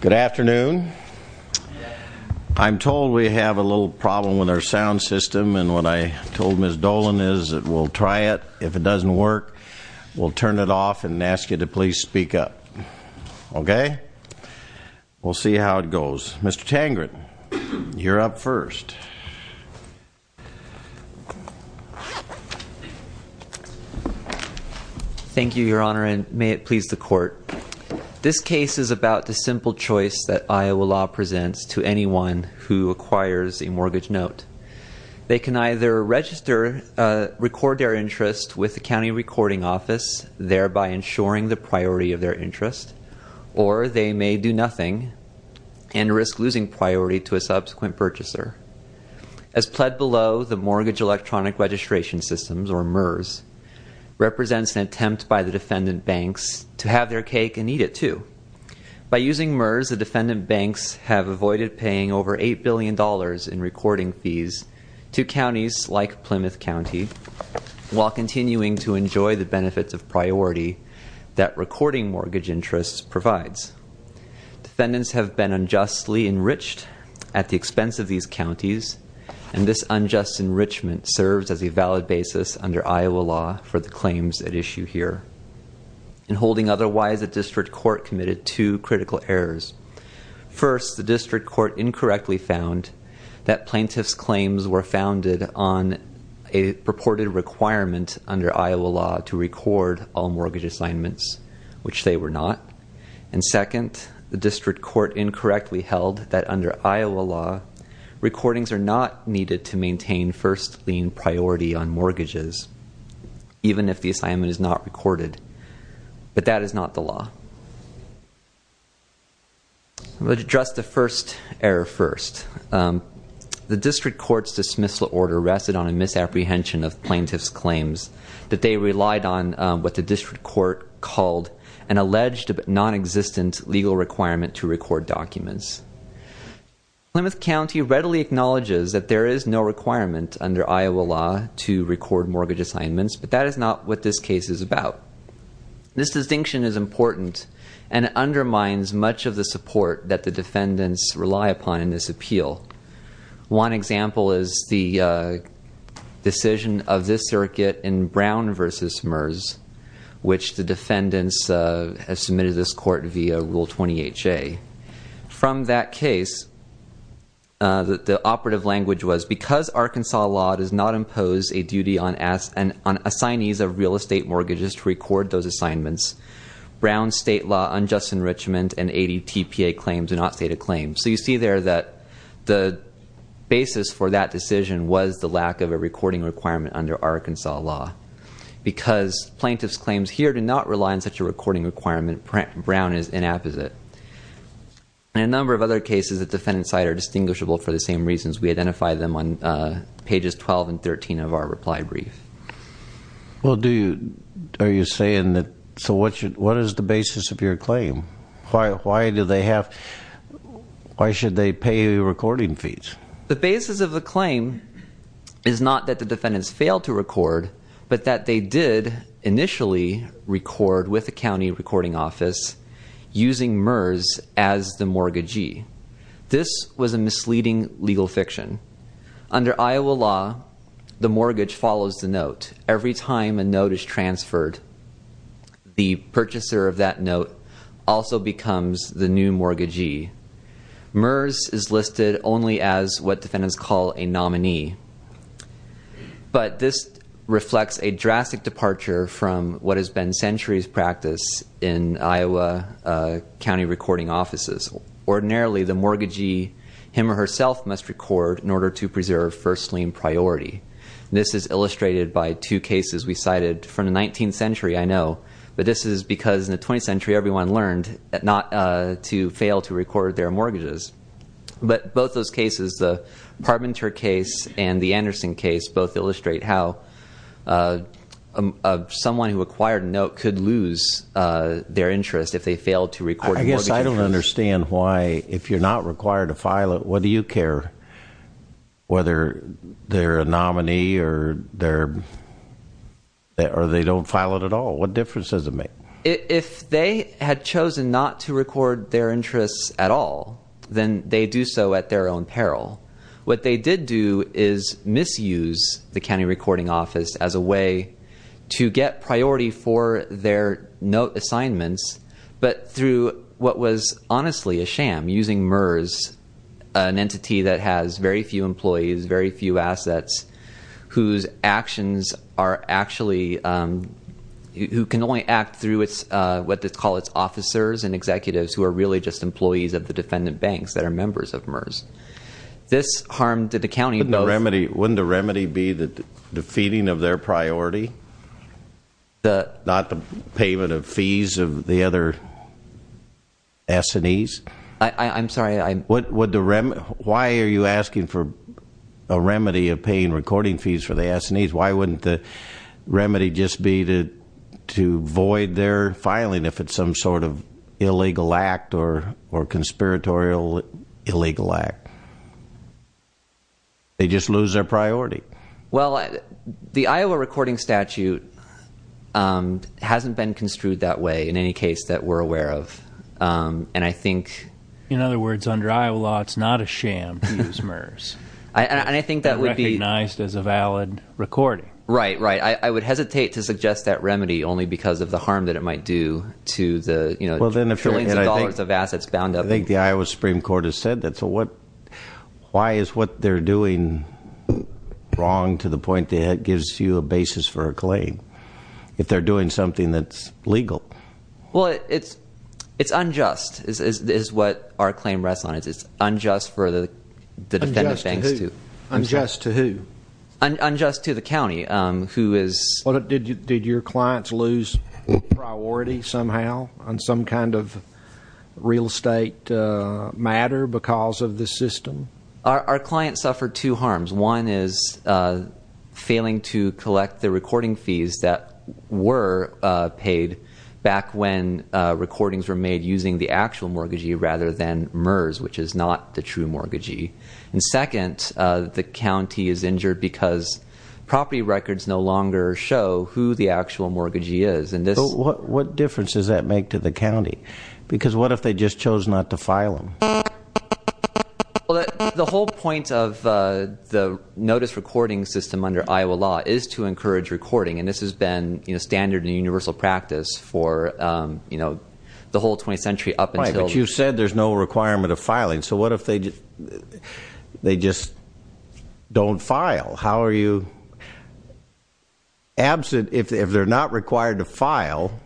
Good afternoon. I'm told we have a little problem with our sound system and what I told Ms. Dolan is that we'll try it. If it doesn't work, we'll turn it off and ask you to please speak up. Okay? We'll see how it goes. Mr. Tangred, you're up This case is about the simple choice that Iowa law presents to anyone who acquires a mortgage note. They can either register, record their interest with the county recording office, thereby ensuring the priority of their interest, or they may do nothing and risk losing priority to a subsequent purchaser. As pled below, the Mortgage Electronic Registration Systems, or MERS, represents an attempt by the defendant banks to have their cake and eat it, too. By using MERS, the defendant banks have avoided paying over $8 billion in recording fees to counties like Plymouth County while continuing to enjoy the benefits of priority that recording mortgage interest provides. Defendants have been unjustly enriched at the expense of these under Iowa law for the claims at issue here. In holding otherwise, a district court committed two critical errors. First, the district court incorrectly found that plaintiff's claims were founded on a purported requirement under Iowa law to record all mortgage assignments, which they were not. And second, the district court incorrectly held that under Iowa law, recordings are not needed to maintain first lien priority on mortgages, even if the assignment is not recorded. But that is not the law. I would address the first error first. The district court's dismissal order rested on a misapprehension of plaintiff's claims, that they relied on what the district court called an alleged but nonexistent legal requirement to record mortgages, that there is no requirement under Iowa law to record mortgage assignments, but that is not what this case is about. This distinction is important, and it undermines much of the support that the defendants rely upon in this appeal. One example is the decision of this circuit in Brown v. MERS, which the defendants have submitted this court via Rule 20HA. From that case, the operative language was, because Arkansas law does not impose a duty on assignees of real estate mortgages to record those assignments, Brown's state law unjust enrichment and ADTPA claims are not stated claims. So you see there that the basis for that decision was the lack of a recording requirement under Arkansas law. Because plaintiff's claims here do not rely on such a recording requirement, Brown is inapposite. In a number of other cases, the defendants' side are distinguishable for the same reasons. We identify them on pages 12 and 13 of our reply brief. Well, do you, are you saying that, so what is the basis of your claim? Why do they have, why should they pay recording fees? The basis of the claim is not that the defendants failed to record, but that they did initially record with the county recording office using MERS as the mortgagee. This was a misleading legal fiction. Under Iowa law, the mortgage follows the note. Every time a note is transferred, the purchaser of that note also becomes the new mortgagee. MERS is listed only as what has been centuries practice in Iowa county recording offices. Ordinarily, the mortgagee, him or herself must record in order to preserve first lien priority. This is illustrated by two cases we cited from the 19th century, I know, but this is because in the 20th century everyone learned not to fail to record their mortgages. But both those cases, the Parmenter case and the Anderson case, both illustrate how someone who acquired a note could lose their interest if they failed to record a mortgage. I guess I don't understand why, if you're not required to file it, what do you care? Whether they're a nominee or they don't file it at all, what difference does it make? If they had chosen not to record their interests at all, then they do so at their own peril. What they did do is misuse the county recording office as a way to get priority for their note assignments, but through what was honestly a sham, using MERS, an entity that has very few employees, very few assets, whose actions are actually, who can only act through what they call its officers and executives who are really just employees of the defendant banks that are members of MERS. This harmed the county. Wouldn't the remedy be the feeding of their priority? Not the payment of fees of the other S&Es? I'm sorry. Why are you asking for a remedy of paying recording fees for the S&Es? Why wouldn't the remedy just be to void their filing if it's some sort of illegal act or conspiratorial illegal act? They just lose their priority. Well, the Iowa recording statute hasn't been construed that way in any case that we're aware of, and I think... In other words, under Iowa law, it's not a sham to use MERS, and recognized as a valid recording. Right, right. I would hesitate to suggest that remedy only because of the harm that it might do to the trillions of dollars of assets bound up in... I think the Iowa Supreme Court has said that, so why is what they're doing wrong to the point that it gives you a basis for a claim, if they're doing something that's legal? Well, it's unjust, is what our claim rests on. It's unjust for the defendant banks to... Unjust to who? Unjust to the county, who is... Did your clients lose priority somehow on some kind of real estate matter because of the system? Our clients suffered two harms. One is failing to collect the recording fees that were paid back when recordings were made using the actual mortgagee rather than MERS, which is not the mortgagee. What difference does that make to the county? Because what if they just chose not to file them? The whole point of the notice recording system under Iowa law is to encourage recording, and this has been standard and universal practice for the whole 20th century up until... Right, but you said there's no requirement of filing, so what if they just don't file? How are you... If they're not required to file,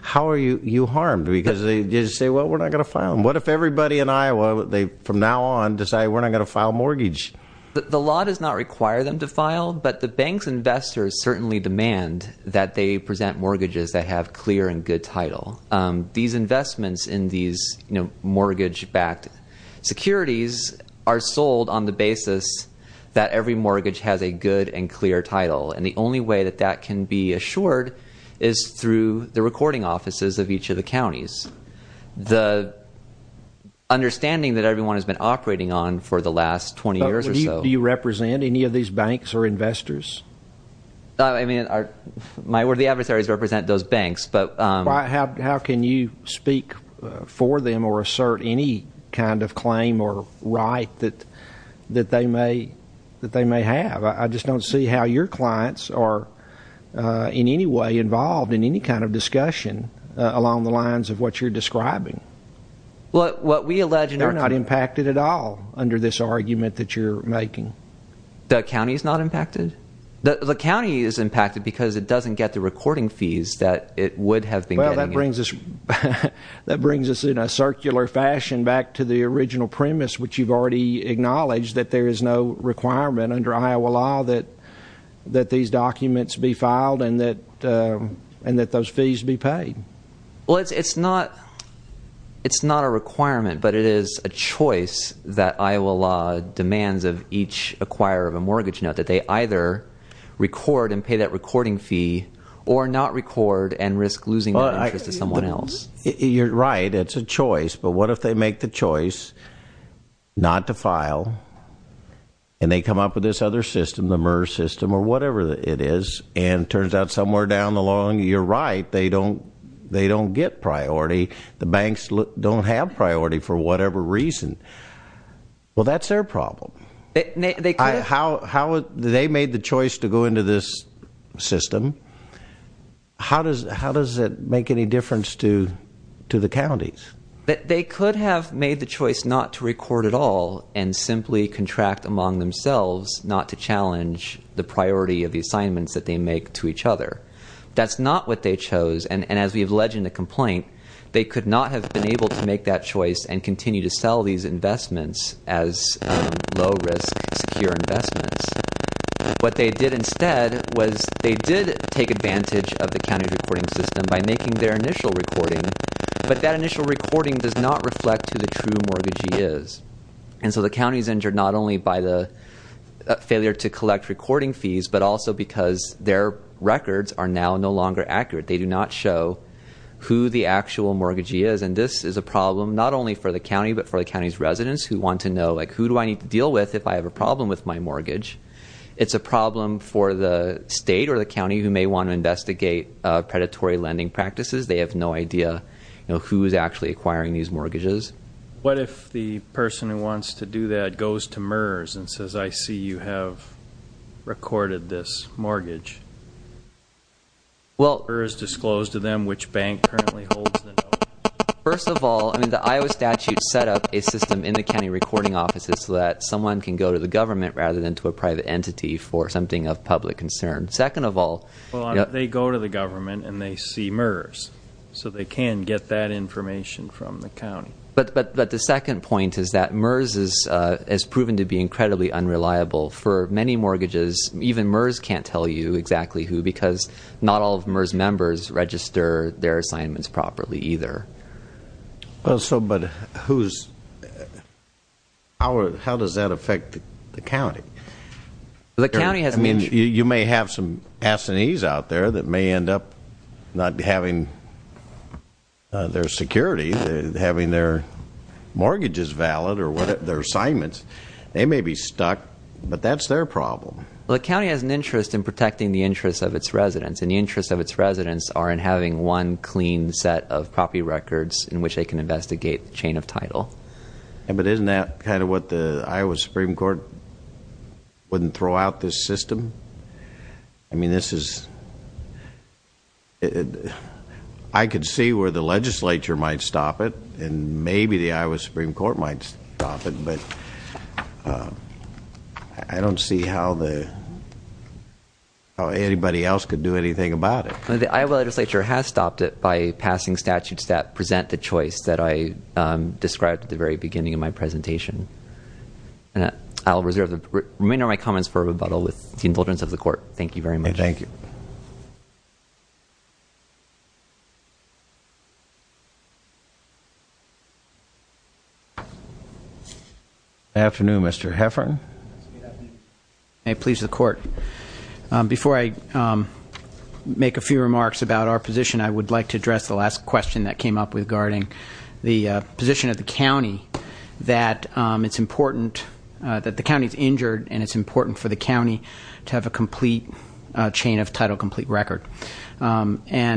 how are you harmed? Because they just say, well, we're not going to file them. What if everybody in Iowa, from now on, decide we're not going to file mortgage? The law does not require them to file, but the bank's investors certainly demand that they present mortgages that have clear and good title. These investments in these mortgage-backed securities are sold on the basis that every mortgage has a good and clear title, and the only way that that can be assured is through the recording offices of each of the counties. The understanding that everyone has been operating on for the last 20 years or so... Do you represent any of these banks or investors? My worthy adversaries represent those banks, but... How can you speak for them or assert any kind of claim or right that they may have? I just don't see how your clients are in any way involved in any kind of discussion along the lines of what you're describing. What we allege... They're not impacted at all under this argument that you're making. The county's not impacted? The county is impacted because it doesn't get the recording fees that it would have been getting. That brings us in a circular fashion back to the original premise, which you've already acknowledged, that there is no requirement under Iowa law that these documents be filed and that those fees be paid. It's not a requirement, but it is a choice that Iowa law demands of each acquirer of a document that they cannot record and risk losing that interest to someone else. You're right, it's a choice, but what if they make the choice not to file and they come up with this other system, the MERS system or whatever it is, and it turns out somewhere down the line, you're right, they don't get priority. The banks don't have priority for whatever reason. Well, that's their problem. They made the choice to go into this system. How does it make any difference to the counties? They could have made the choice not to record at all and simply contract among themselves not to challenge the priority of the assignments that they make to each other. That's not what they chose, and as we have alleged in the complaint, they could not have been able to make that choice and continue to sell these investments as low-risk, secure investments. What they did instead was they did take advantage of the county recording system by making their initial recording, but that initial recording does not reflect who the true mortgagee is, and so the county's injured not only by the failure to collect recording fees, but also because their records are now no longer accurate. They do not show who the actual mortgagee is, and this is a problem not only for the county, but for the county's residents who want to know, like, who do I need to deal with if I have a problem with my mortgage? It's a problem for the state or the county who may want to investigate predatory lending practices. They have no idea who is actually acquiring these mortgages. What if the person who wants to do that goes to MERS and says, I see you have recorded this mortgage? Will MERS disclose to them which bank currently holds the note? First of all, the Iowa statute set up a system in the county recording offices so that someone can go to the government rather than to a private entity for something of public concern. Second of all, they go to the government and they see MERS, so they can get that information from the county. But the second point is that MERS has proven to be incredibly unreliable for many mortgages. Even MERS can't tell you exactly who because not all of MERS members register their assignments properly either. Well, so, but who's, how does that affect the county? The county has I mean, you may have some S&Es out there that may end up not having their security, having their mortgages valid or their assignments. They may be stuck, but that's their problem. Well, the county has an interest in protecting the interests of its residents and the interests of its residents are in having one clean set of property records in which they can investigate the chain of title. Yeah, but isn't that kind of what the Iowa Supreme Court wouldn't throw out this system? I mean, this is, I could see where the legislature might stop it and maybe the Iowa Supreme Court might stop it, but I don't see how the, how anybody else could do anything about it. The Iowa legislature has stopped it by passing statutes that present the choice that I described at the very beginning of my presentation. I'll reserve the remainder of my comments for rebuttal with the indulgence of the court. Thank you very much. Thank you. Good afternoon, Mr. Heffern. Good afternoon. May it please the court. Before I make a few remarks about our position, I would like to address the last question that came up regarding the position of the county that it's important, that the county's And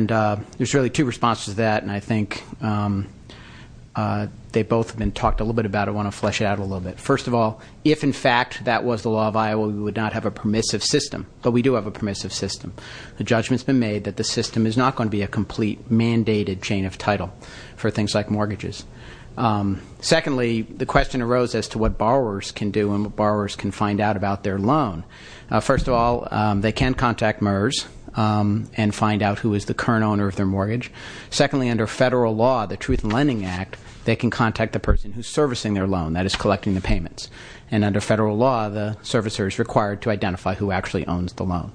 there's really two responses to that, and I think they both have been talked a little bit about. I want to flesh it out a little bit. First of all, if, in fact, that was the law of Iowa, we would not have a permissive system, but we do have a permissive system. The judgment's been made that the system is not going to be a complete mandated chain of title for things like mortgages. Secondly, the question arose as to what borrowers can do and what borrowers can find out about their loan. First of all, they can contact MERS and find out who is the current owner of their mortgage. Secondly, under federal law, the Truth in Lending Act, they can contact the person who's servicing their loan, that is, collecting the payments. And under federal law, the servicer is required to identify who actually owns the loan.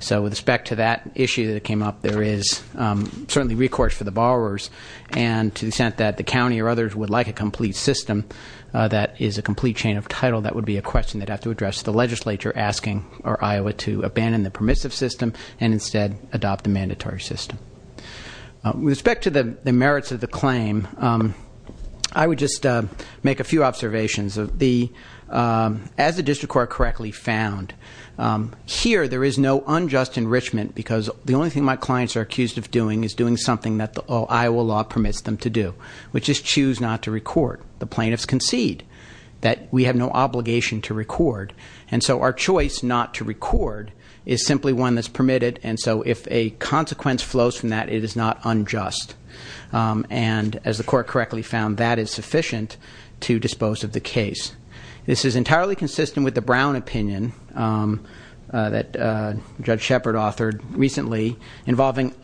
So with respect to that issue that came up, there is certainly recourse for the borrowers, and to the extent that the county or others would like a complete system that is a complete chain of title, that would be a question that I'd have to address the legislature asking our Iowa to abandon the permissive system and instead adopt the mandatory system. With respect to the merits of the claim, I would just make a few observations. As the district court correctly found, here there is no unjust enrichment because the only thing my clients are accused of doing is doing something that the Iowa law permits them to do, which is choose not to recourt. The plaintiffs concede that we have no obligation to record. And so our choice not to record is simply one that's permitted, and so if a consequence flows from that, it is not unjust. And as the court correctly found, that is sufficient to dispose of the case. This is entirely consistent with the Brown opinion that Judge Shepard authored recently involving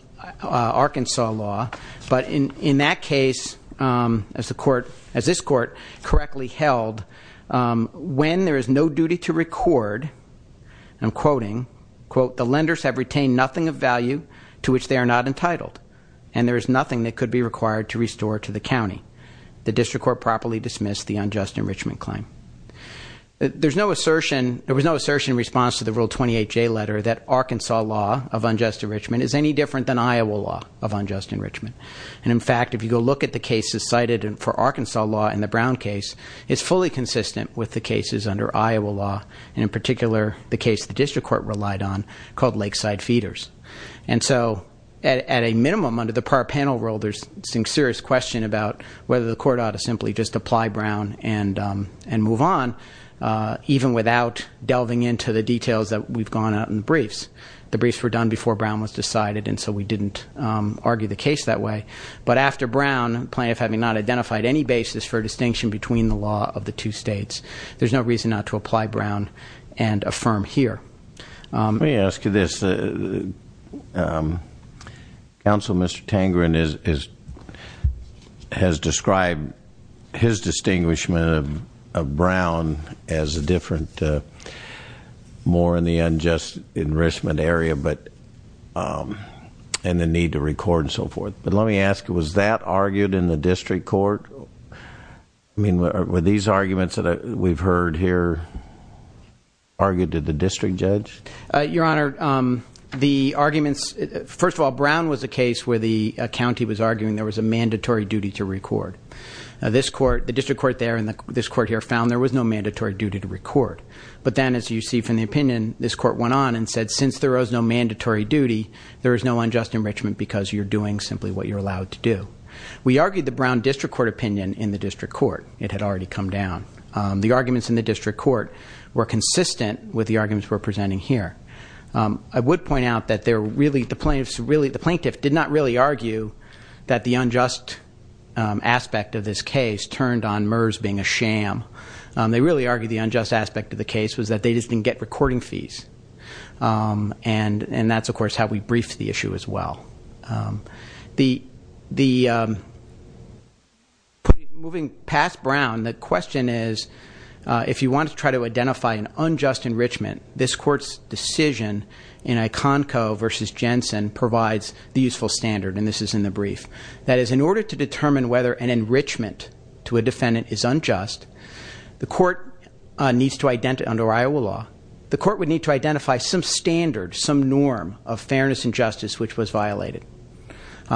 Arkansas law. But in that case, as this court correctly held, when there is no duty to record, I'm quoting, quote, the lenders have retained nothing of value to which they are not entitled. And there is nothing that could be required to restore to the county. The district court properly dismissed the unjust enrichment claim. There was no assertion in response to the Rule 28J letter that Arkansas law of unjust enrichment is any different than Iowa law of unjust enrichment. And in fact, if you go look at the cases cited for Arkansas law in the Brown case, it's fully consistent with the cases under Iowa law. And in particular, the case the district court relied on called Lakeside Feeders. And so, at a minimum, under the par panel rule, there's some serious question about whether the court ought to simply just apply Brown and move on, even without delving into the details that we've gone out in the briefs. The briefs were done before Brown was decided, and so we didn't argue the case that way. But after Brown, plaintiff having not identified any basis for distinction between the law of the two states, there's no reason not to apply Brown and affirm here. Let me ask you this. Councilman Mr. Tangren has described his assessment of the unjust enrichment area and the need to record and so forth. But let me ask, was that argued in the district court? I mean, were these arguments that we've heard here argued to the district judge? Your Honor, the arguments, first of all, Brown was a case where the county was arguing there was a mandatory duty to record. This court, the district court there and this court here found there was no mandatory duty to record. But then, as you see from the opinion, this court went on and said, since there is no mandatory duty, there is no unjust enrichment because you're doing simply what you're allowed to do. We argued the Brown district court opinion in the district court. It had already come down. The arguments in the district court were consistent with the arguments we're presenting here. I would point out that the plaintiff did not really argue that the unjust aspect of this case turned on MERS being a sham. They really argued the unjust aspect of the case was that they just didn't get recording fees. And that's, of course, how we briefed the issue as well. Moving past Brown, the question is, if you want to try to identify an unjust enrichment, this court's decision in Iconco versus Jensen provides the useful standard, and this is in the brief. That is, in order to determine whether an enrichment to a defendant is unjust, the court needs to identify, under Iowa law, the court would need to identify some standard, some norm of fairness and justice which was violated.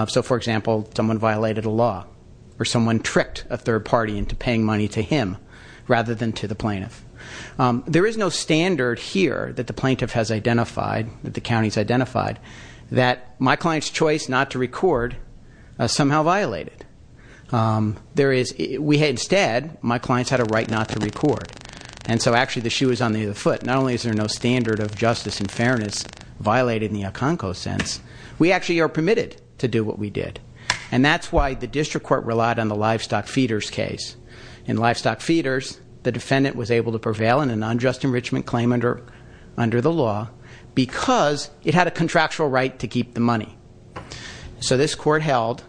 So, for example, someone violated a law or someone tricked a third party into paying money to him rather than to the plaintiff. There is no standard here that the plaintiff has identified, that the county's identified, that my client's choice not to record is somehow violated. There is, we had instead, my client's had a right not to record. And so actually the shoe is on the other foot. Not only is there no standard of justice and fairness violated in the Iconco sense, we actually are permitted to do what we did. And that's why the district court relied on the livestock feeders case. In livestock feeders, the defendant was able to prevail in an unjust enrichment claim under the law because it had a contractual right to keep the money. So this court held,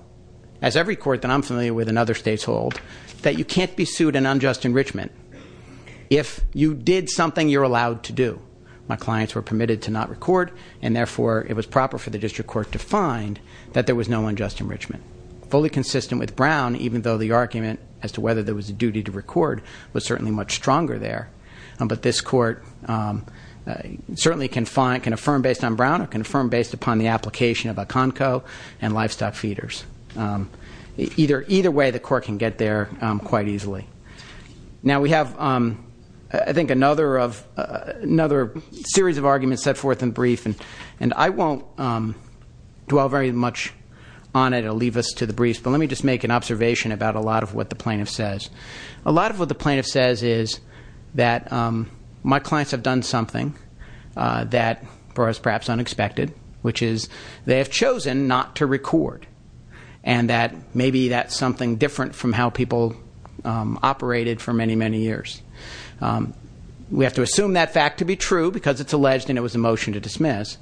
as every court that I'm familiar with in other states hold, that you can't be sued in unjust enrichment if you did something you're allowed to do. My clients were permitted to not record, and therefore it was proper for the district court to find that there was no unjust enrichment. Fully consistent with Brown, even though the argument as to whether there was a duty to record was certainly much stronger there. But this court certainly can affirm based on Brown or confirm based upon the application of Iconco and livestock feeders. Either way, the court can get there quite easily. Now we have, I think, another series of arguments set forth in brief. And I won't dwell very much on it, it'll leave us to the briefs. But let me just make an observation about a lot of what the plaintiff says. A lot of what the plaintiff says is that my clients have done something that was perhaps unexpected, which is they have chosen not to record, and that maybe that's something different from how people operated for many, many years. We have to assume that fact to be true, because it's alleged and it was a motion to dismiss.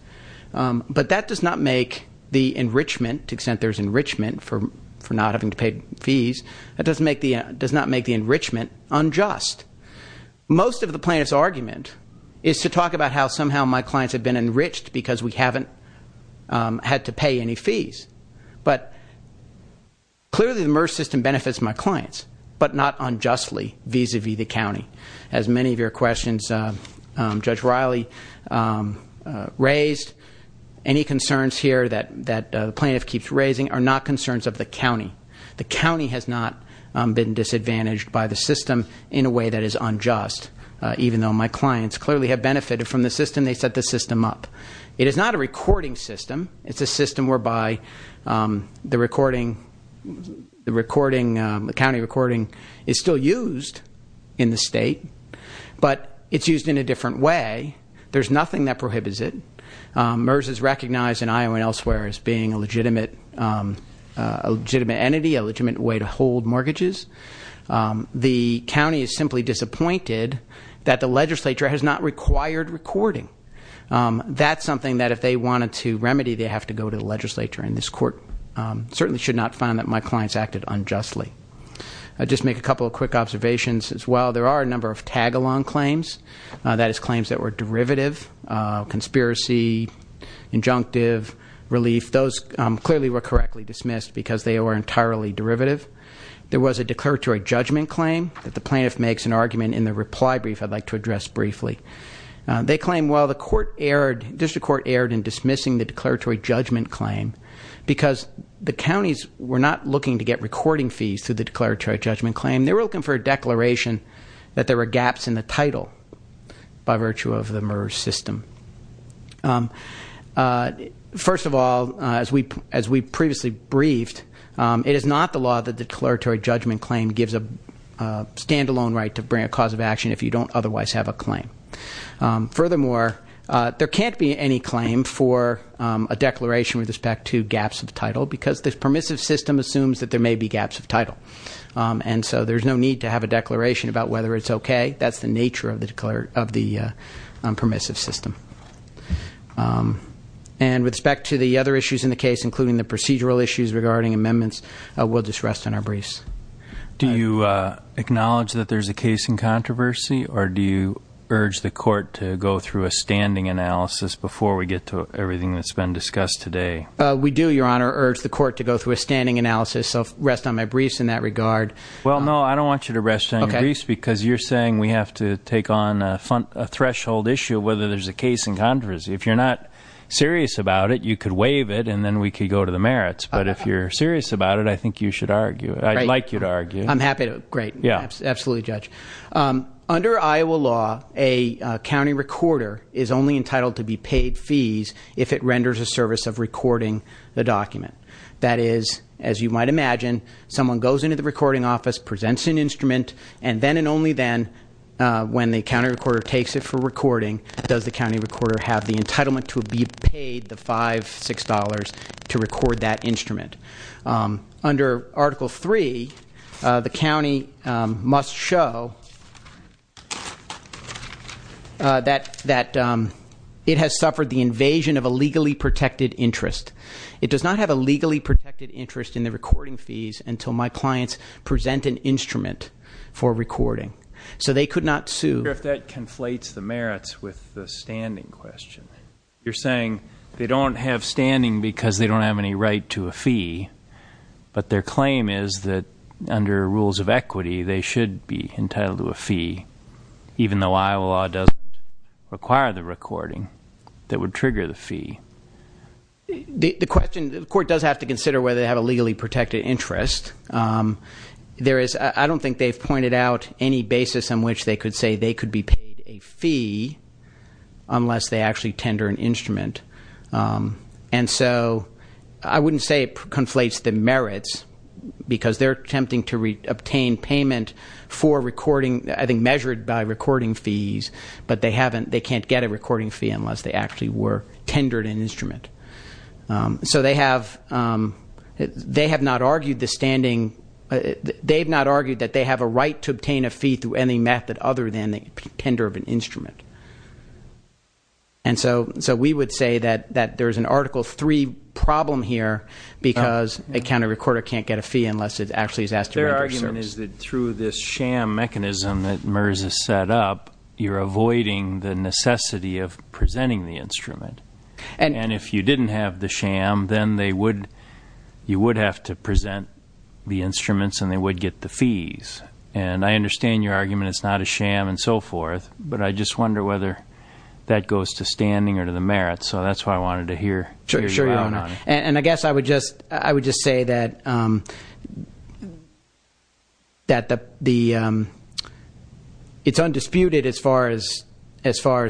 But that does not make the enrichment, to the extent there's enrichment for not having to pay fees, that does not make the enrichment unjust. Most of the plaintiff's argument is to talk about how somehow my clients have been enriched because we haven't had to pay any fees. But clearly the MERS system benefits my clients, but not unjustly vis-a-vis the county. As many of your questions, Judge Riley raised, any concerns here that the plaintiff keeps raising are not concerns of the county. The county has not been disadvantaged by the system in a way that is unjust, even though my clients clearly have benefited from the system, they set the system up. It is not a recording system. It's a system whereby the county recording is still used in the state, but it's used in a different way. There's nothing that prohibits it. MERS is recognized in Iowa and elsewhere as being a legitimate entity, a legitimate way to hold mortgages. The county is simply disappointed that the legislature has not required recording. That's something that if they wanted to remedy, they'd have to go to the legislature. And this court certainly should not find that my clients acted unjustly. I'll just make a couple of quick observations as well. There are a number of tag along claims, that is claims that were derivative, conspiracy, injunctive, relief. Those clearly were correctly dismissed because they were entirely derivative. There was a declaratory judgment claim that the plaintiff makes an argument in the reply brief I'd like to address briefly. They claim while the court erred, district court erred in dismissing the declaratory judgment claim, because the counties were not looking to get recording fees through the declaratory judgment claim. They were looking for a declaration that there were gaps in the title by virtue of the MERS system. First of all, as we previously briefed, it is not the law that the declaratory judgment claim gives a standalone right to bring a cause of action if you don't otherwise have a claim. Furthermore, there can't be any claim for a declaration with respect to gaps of title, because this permissive system assumes that there may be gaps of title. And so there's no need to have a declaration about whether it's okay. That's the nature of the permissive system. And with respect to the other issues in the case, including the procedural issues regarding amendments, we'll just rest on our briefs. Do you acknowledge that there's a case in controversy, or do you urge the court to go through a standing analysis before we get to everything that's been discussed today? We do, your honor, urge the court to go through a standing analysis, so rest on my briefs in that regard. Well, no, I don't want you to rest on your briefs, because you're saying we have to take on a threshold issue, whether there's a case in controversy. If you're not serious about it, you could waive it, and then we could go to the merits. But if you're serious about it, I think you should argue, I'd like you to argue. I'm happy to, great. Yeah. Absolutely, Judge. Under Iowa law, a county recorder is only entitled to be paid fees if it renders a service of recording the document. That is, as you might imagine, someone goes into the recording office, presents an instrument. And then and only then, when the county recorder takes it for recording, does the county recorder have the entitlement to be paid the $5, $6 to record that instrument. Under Article 3, the county must show that it has suffered the invasion of a legally protected interest. It does not have a legally protected interest in the recording fees until my clients present an instrument for recording. So they could not sue. I wonder if that conflates the merits with the standing question. You're saying they don't have standing because they don't have any right to a fee. But their claim is that under rules of equity, they should be entitled to a fee, even though Iowa law doesn't require the recording that would trigger the fee. The question, the court does have to consider whether they have a legally protected interest. There is, I don't think they've pointed out any basis on which they could say they could be paid a fee. Unless they actually tender an instrument. And so, I wouldn't say it conflates the merits, because they're attempting to obtain payment for recording, I think measured by recording fees. But they can't get a recording fee unless they actually were tendered an instrument. So they have not argued the standing, they've not argued that they have a right to obtain a fee through any method other than the tender of an instrument. And so we would say that there's an article three problem here, because a county recorder can't get a fee unless it actually is asked to- Their argument is that through this sham mechanism that MERS has set up, And if you didn't have the sham, then you would have to present the instruments and they would get the fees. And I understand your argument, it's not a sham and so forth, but I just wonder whether that goes to standing or to the merits. So that's why I wanted to hear you out on it. And I guess I would just say that it's undisputed as far as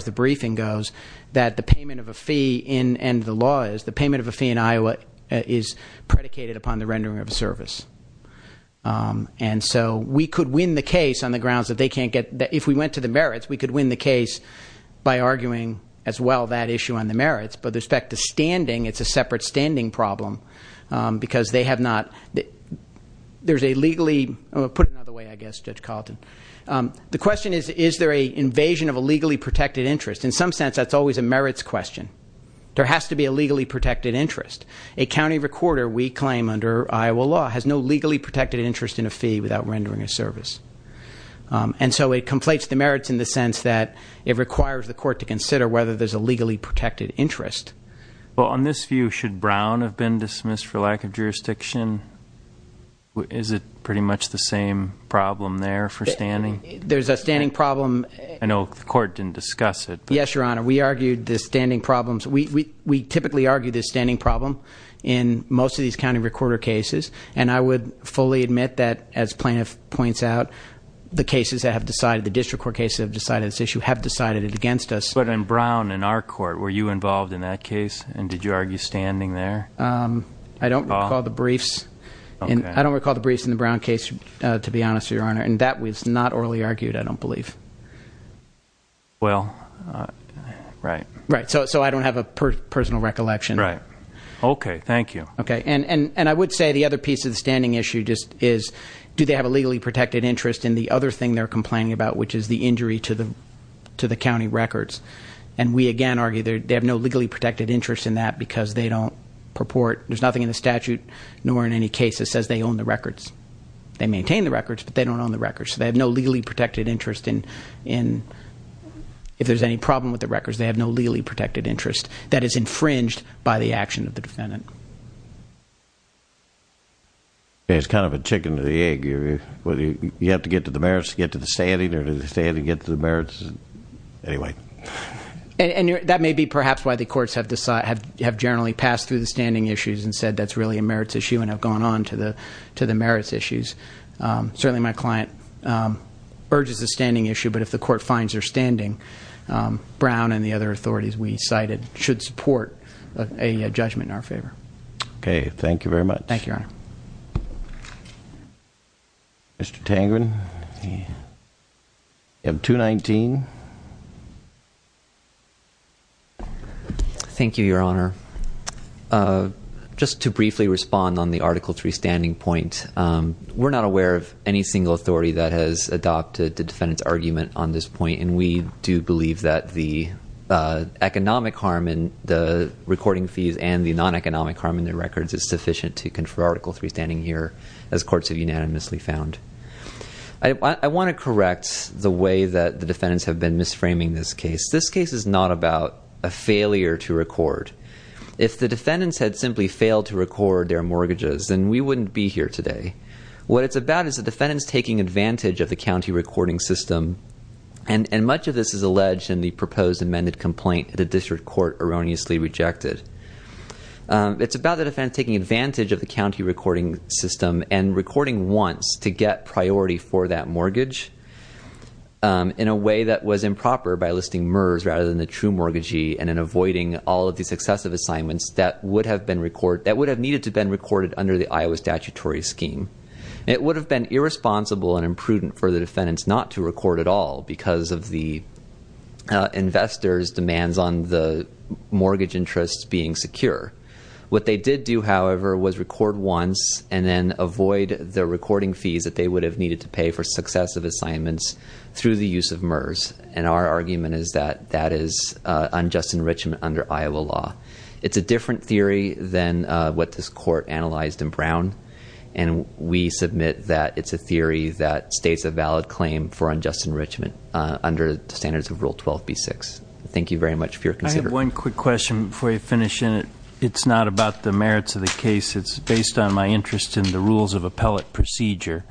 the briefing goes, that the payment of a fee in, and the law is, the payment of a fee in Iowa is predicated upon the rendering of a service. And so we could win the case on the grounds that they can't get, if we went to the merits, we could win the case by arguing as well that issue on the merits. But with respect to standing, it's a separate standing problem, because they have not, there's a legally, put it another way, I guess, Judge Carlton. The question is, is there a invasion of a legally protected interest? In some sense, that's always a merits question. There has to be a legally protected interest. A county recorder, we claim under Iowa law, has no legally protected interest in a fee without rendering a service. And so it conflates the merits in the sense that it requires the court to consider whether there's a legally protected interest. Well, on this view, should Brown have been dismissed for lack of jurisdiction? Is it pretty much the same problem there for standing? There's a standing problem. I know the court didn't discuss it. Yes, your honor. We argued the standing problems. We typically argue the standing problem in most of these county recorder cases. And I would fully admit that, as plaintiff points out, the cases that have decided, the district court cases that have decided this issue, have decided it against us. But in Brown, in our court, were you involved in that case, and did you argue standing there? I don't recall the briefs. I don't recall the briefs in the Brown case, to be honest, your honor, and that was not orally argued, I don't believe. Well, right. Right, so I don't have a personal recollection. Right. Okay, thank you. Okay, and I would say the other piece of the standing issue just is, do they have a legally protected interest in the other thing they're complaining about, which is the injury to the county records? And we, again, argue they have no legally protected interest in that because they don't purport, there's nothing in the statute, nor in any case that says they own the records. They maintain the records, but they don't own the records. They have no legally protected interest in, if there's any problem with the records, they have no legally protected interest that is infringed by the action of the defendant. It's kind of a chicken or the egg. You have to get to the merits to get to the standing, or do the standing get to the merits? Anyway. And that may be perhaps why the courts have generally passed through the standing issues and said that's really a merits issue and have gone on to the merits issues. Certainly my client urges the standing issue, but if the court finds they're standing, Brown and the other authorities we cited should support a judgment in our favor. Okay, thank you very much. Thank you, Your Honor. Mr. Tangren, you have 219. Thank you, Your Honor. Just to briefly respond on the Article 3 standing point. We're not aware of any single authority that has adopted the defendant's argument on this point, and we do believe that the economic harm in the recording fees and the non-economic harm in the records is sufficient to confer Article 3 standing here, as courts have unanimously found. I want to correct the way that the defendants have been misframing this case. This case is not about a failure to record. If the defendants had simply failed to record their mortgages, then we wouldn't be here today. What it's about is the defendants taking advantage of the county recording system. And much of this is alleged in the proposed amended complaint that the district court erroneously rejected. It's about the defendants taking advantage of the county recording system and recording once to get priority for that mortgage in a way that was improper by listing MERS rather than the true mortgagee. And in avoiding all of these excessive assignments that would have needed to be recorded under the Iowa statutory scheme. It would have been irresponsible and imprudent for the defendants not to record at all because of the investors' demands on the mortgage interest being secure. What they did do, however, was record once and then avoid the recording fees that they would have needed to pay for successive assignments through the use of MERS, and our argument is that that is unjust enrichment under Iowa law. It's a different theory than what this court analyzed in Brown. And we submit that it's a theory that states a valid claim for unjust enrichment under the standards of Rule 12B6. Thank you very much for your consideration. One quick question before you finish in it. It's not about the merits of the case. It's based on my interest in the rules of appellate procedure.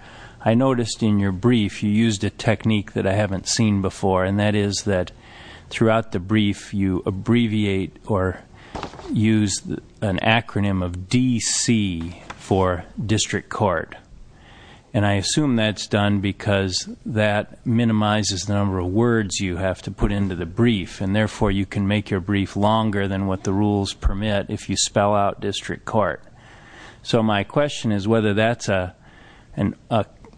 I noticed in your brief, you used a technique that I haven't seen before. And that is that throughout the brief, you abbreviate or use an acronym of DC for district court. And I assume that's done because that minimizes the number of words you have to put into the brief. And therefore, you can make your brief longer than what the rules permit if you spell out district court. So my question is whether that's a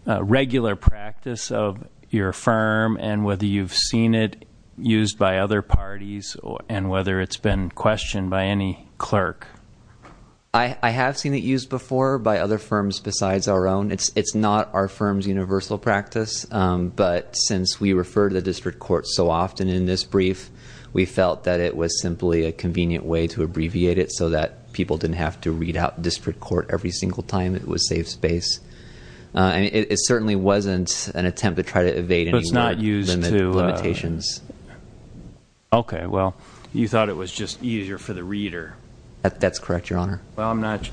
regular practice of your firm, and whether you've seen it used by other parties, and whether it's been questioned by any clerk. I have seen it used before by other firms besides our own. It's not our firm's universal practice. But since we refer to the district court so often in this brief, we felt that it was simply a convenient way to abbreviate it so that people didn't have to read out district court every single time it was safe space. And it certainly wasn't an attempt to try to evade any more limitations. Okay, well, you thought it was just easier for the reader. That's correct, your honor. Well, I'm not,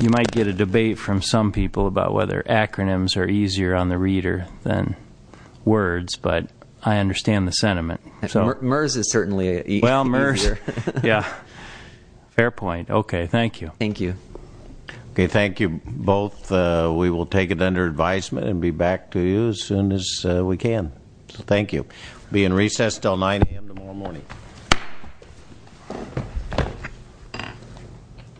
you might get a debate from some people about whether acronyms are easier on the reader than words. But I understand the sentiment, so. MERS is certainly easier. Well, MERS, yeah, fair point. Okay, thank you. Thank you. Okay, thank you both. We will take it under advisement and be back to you as soon as we can. Thank you. Be in recess till 9 AM tomorrow morning.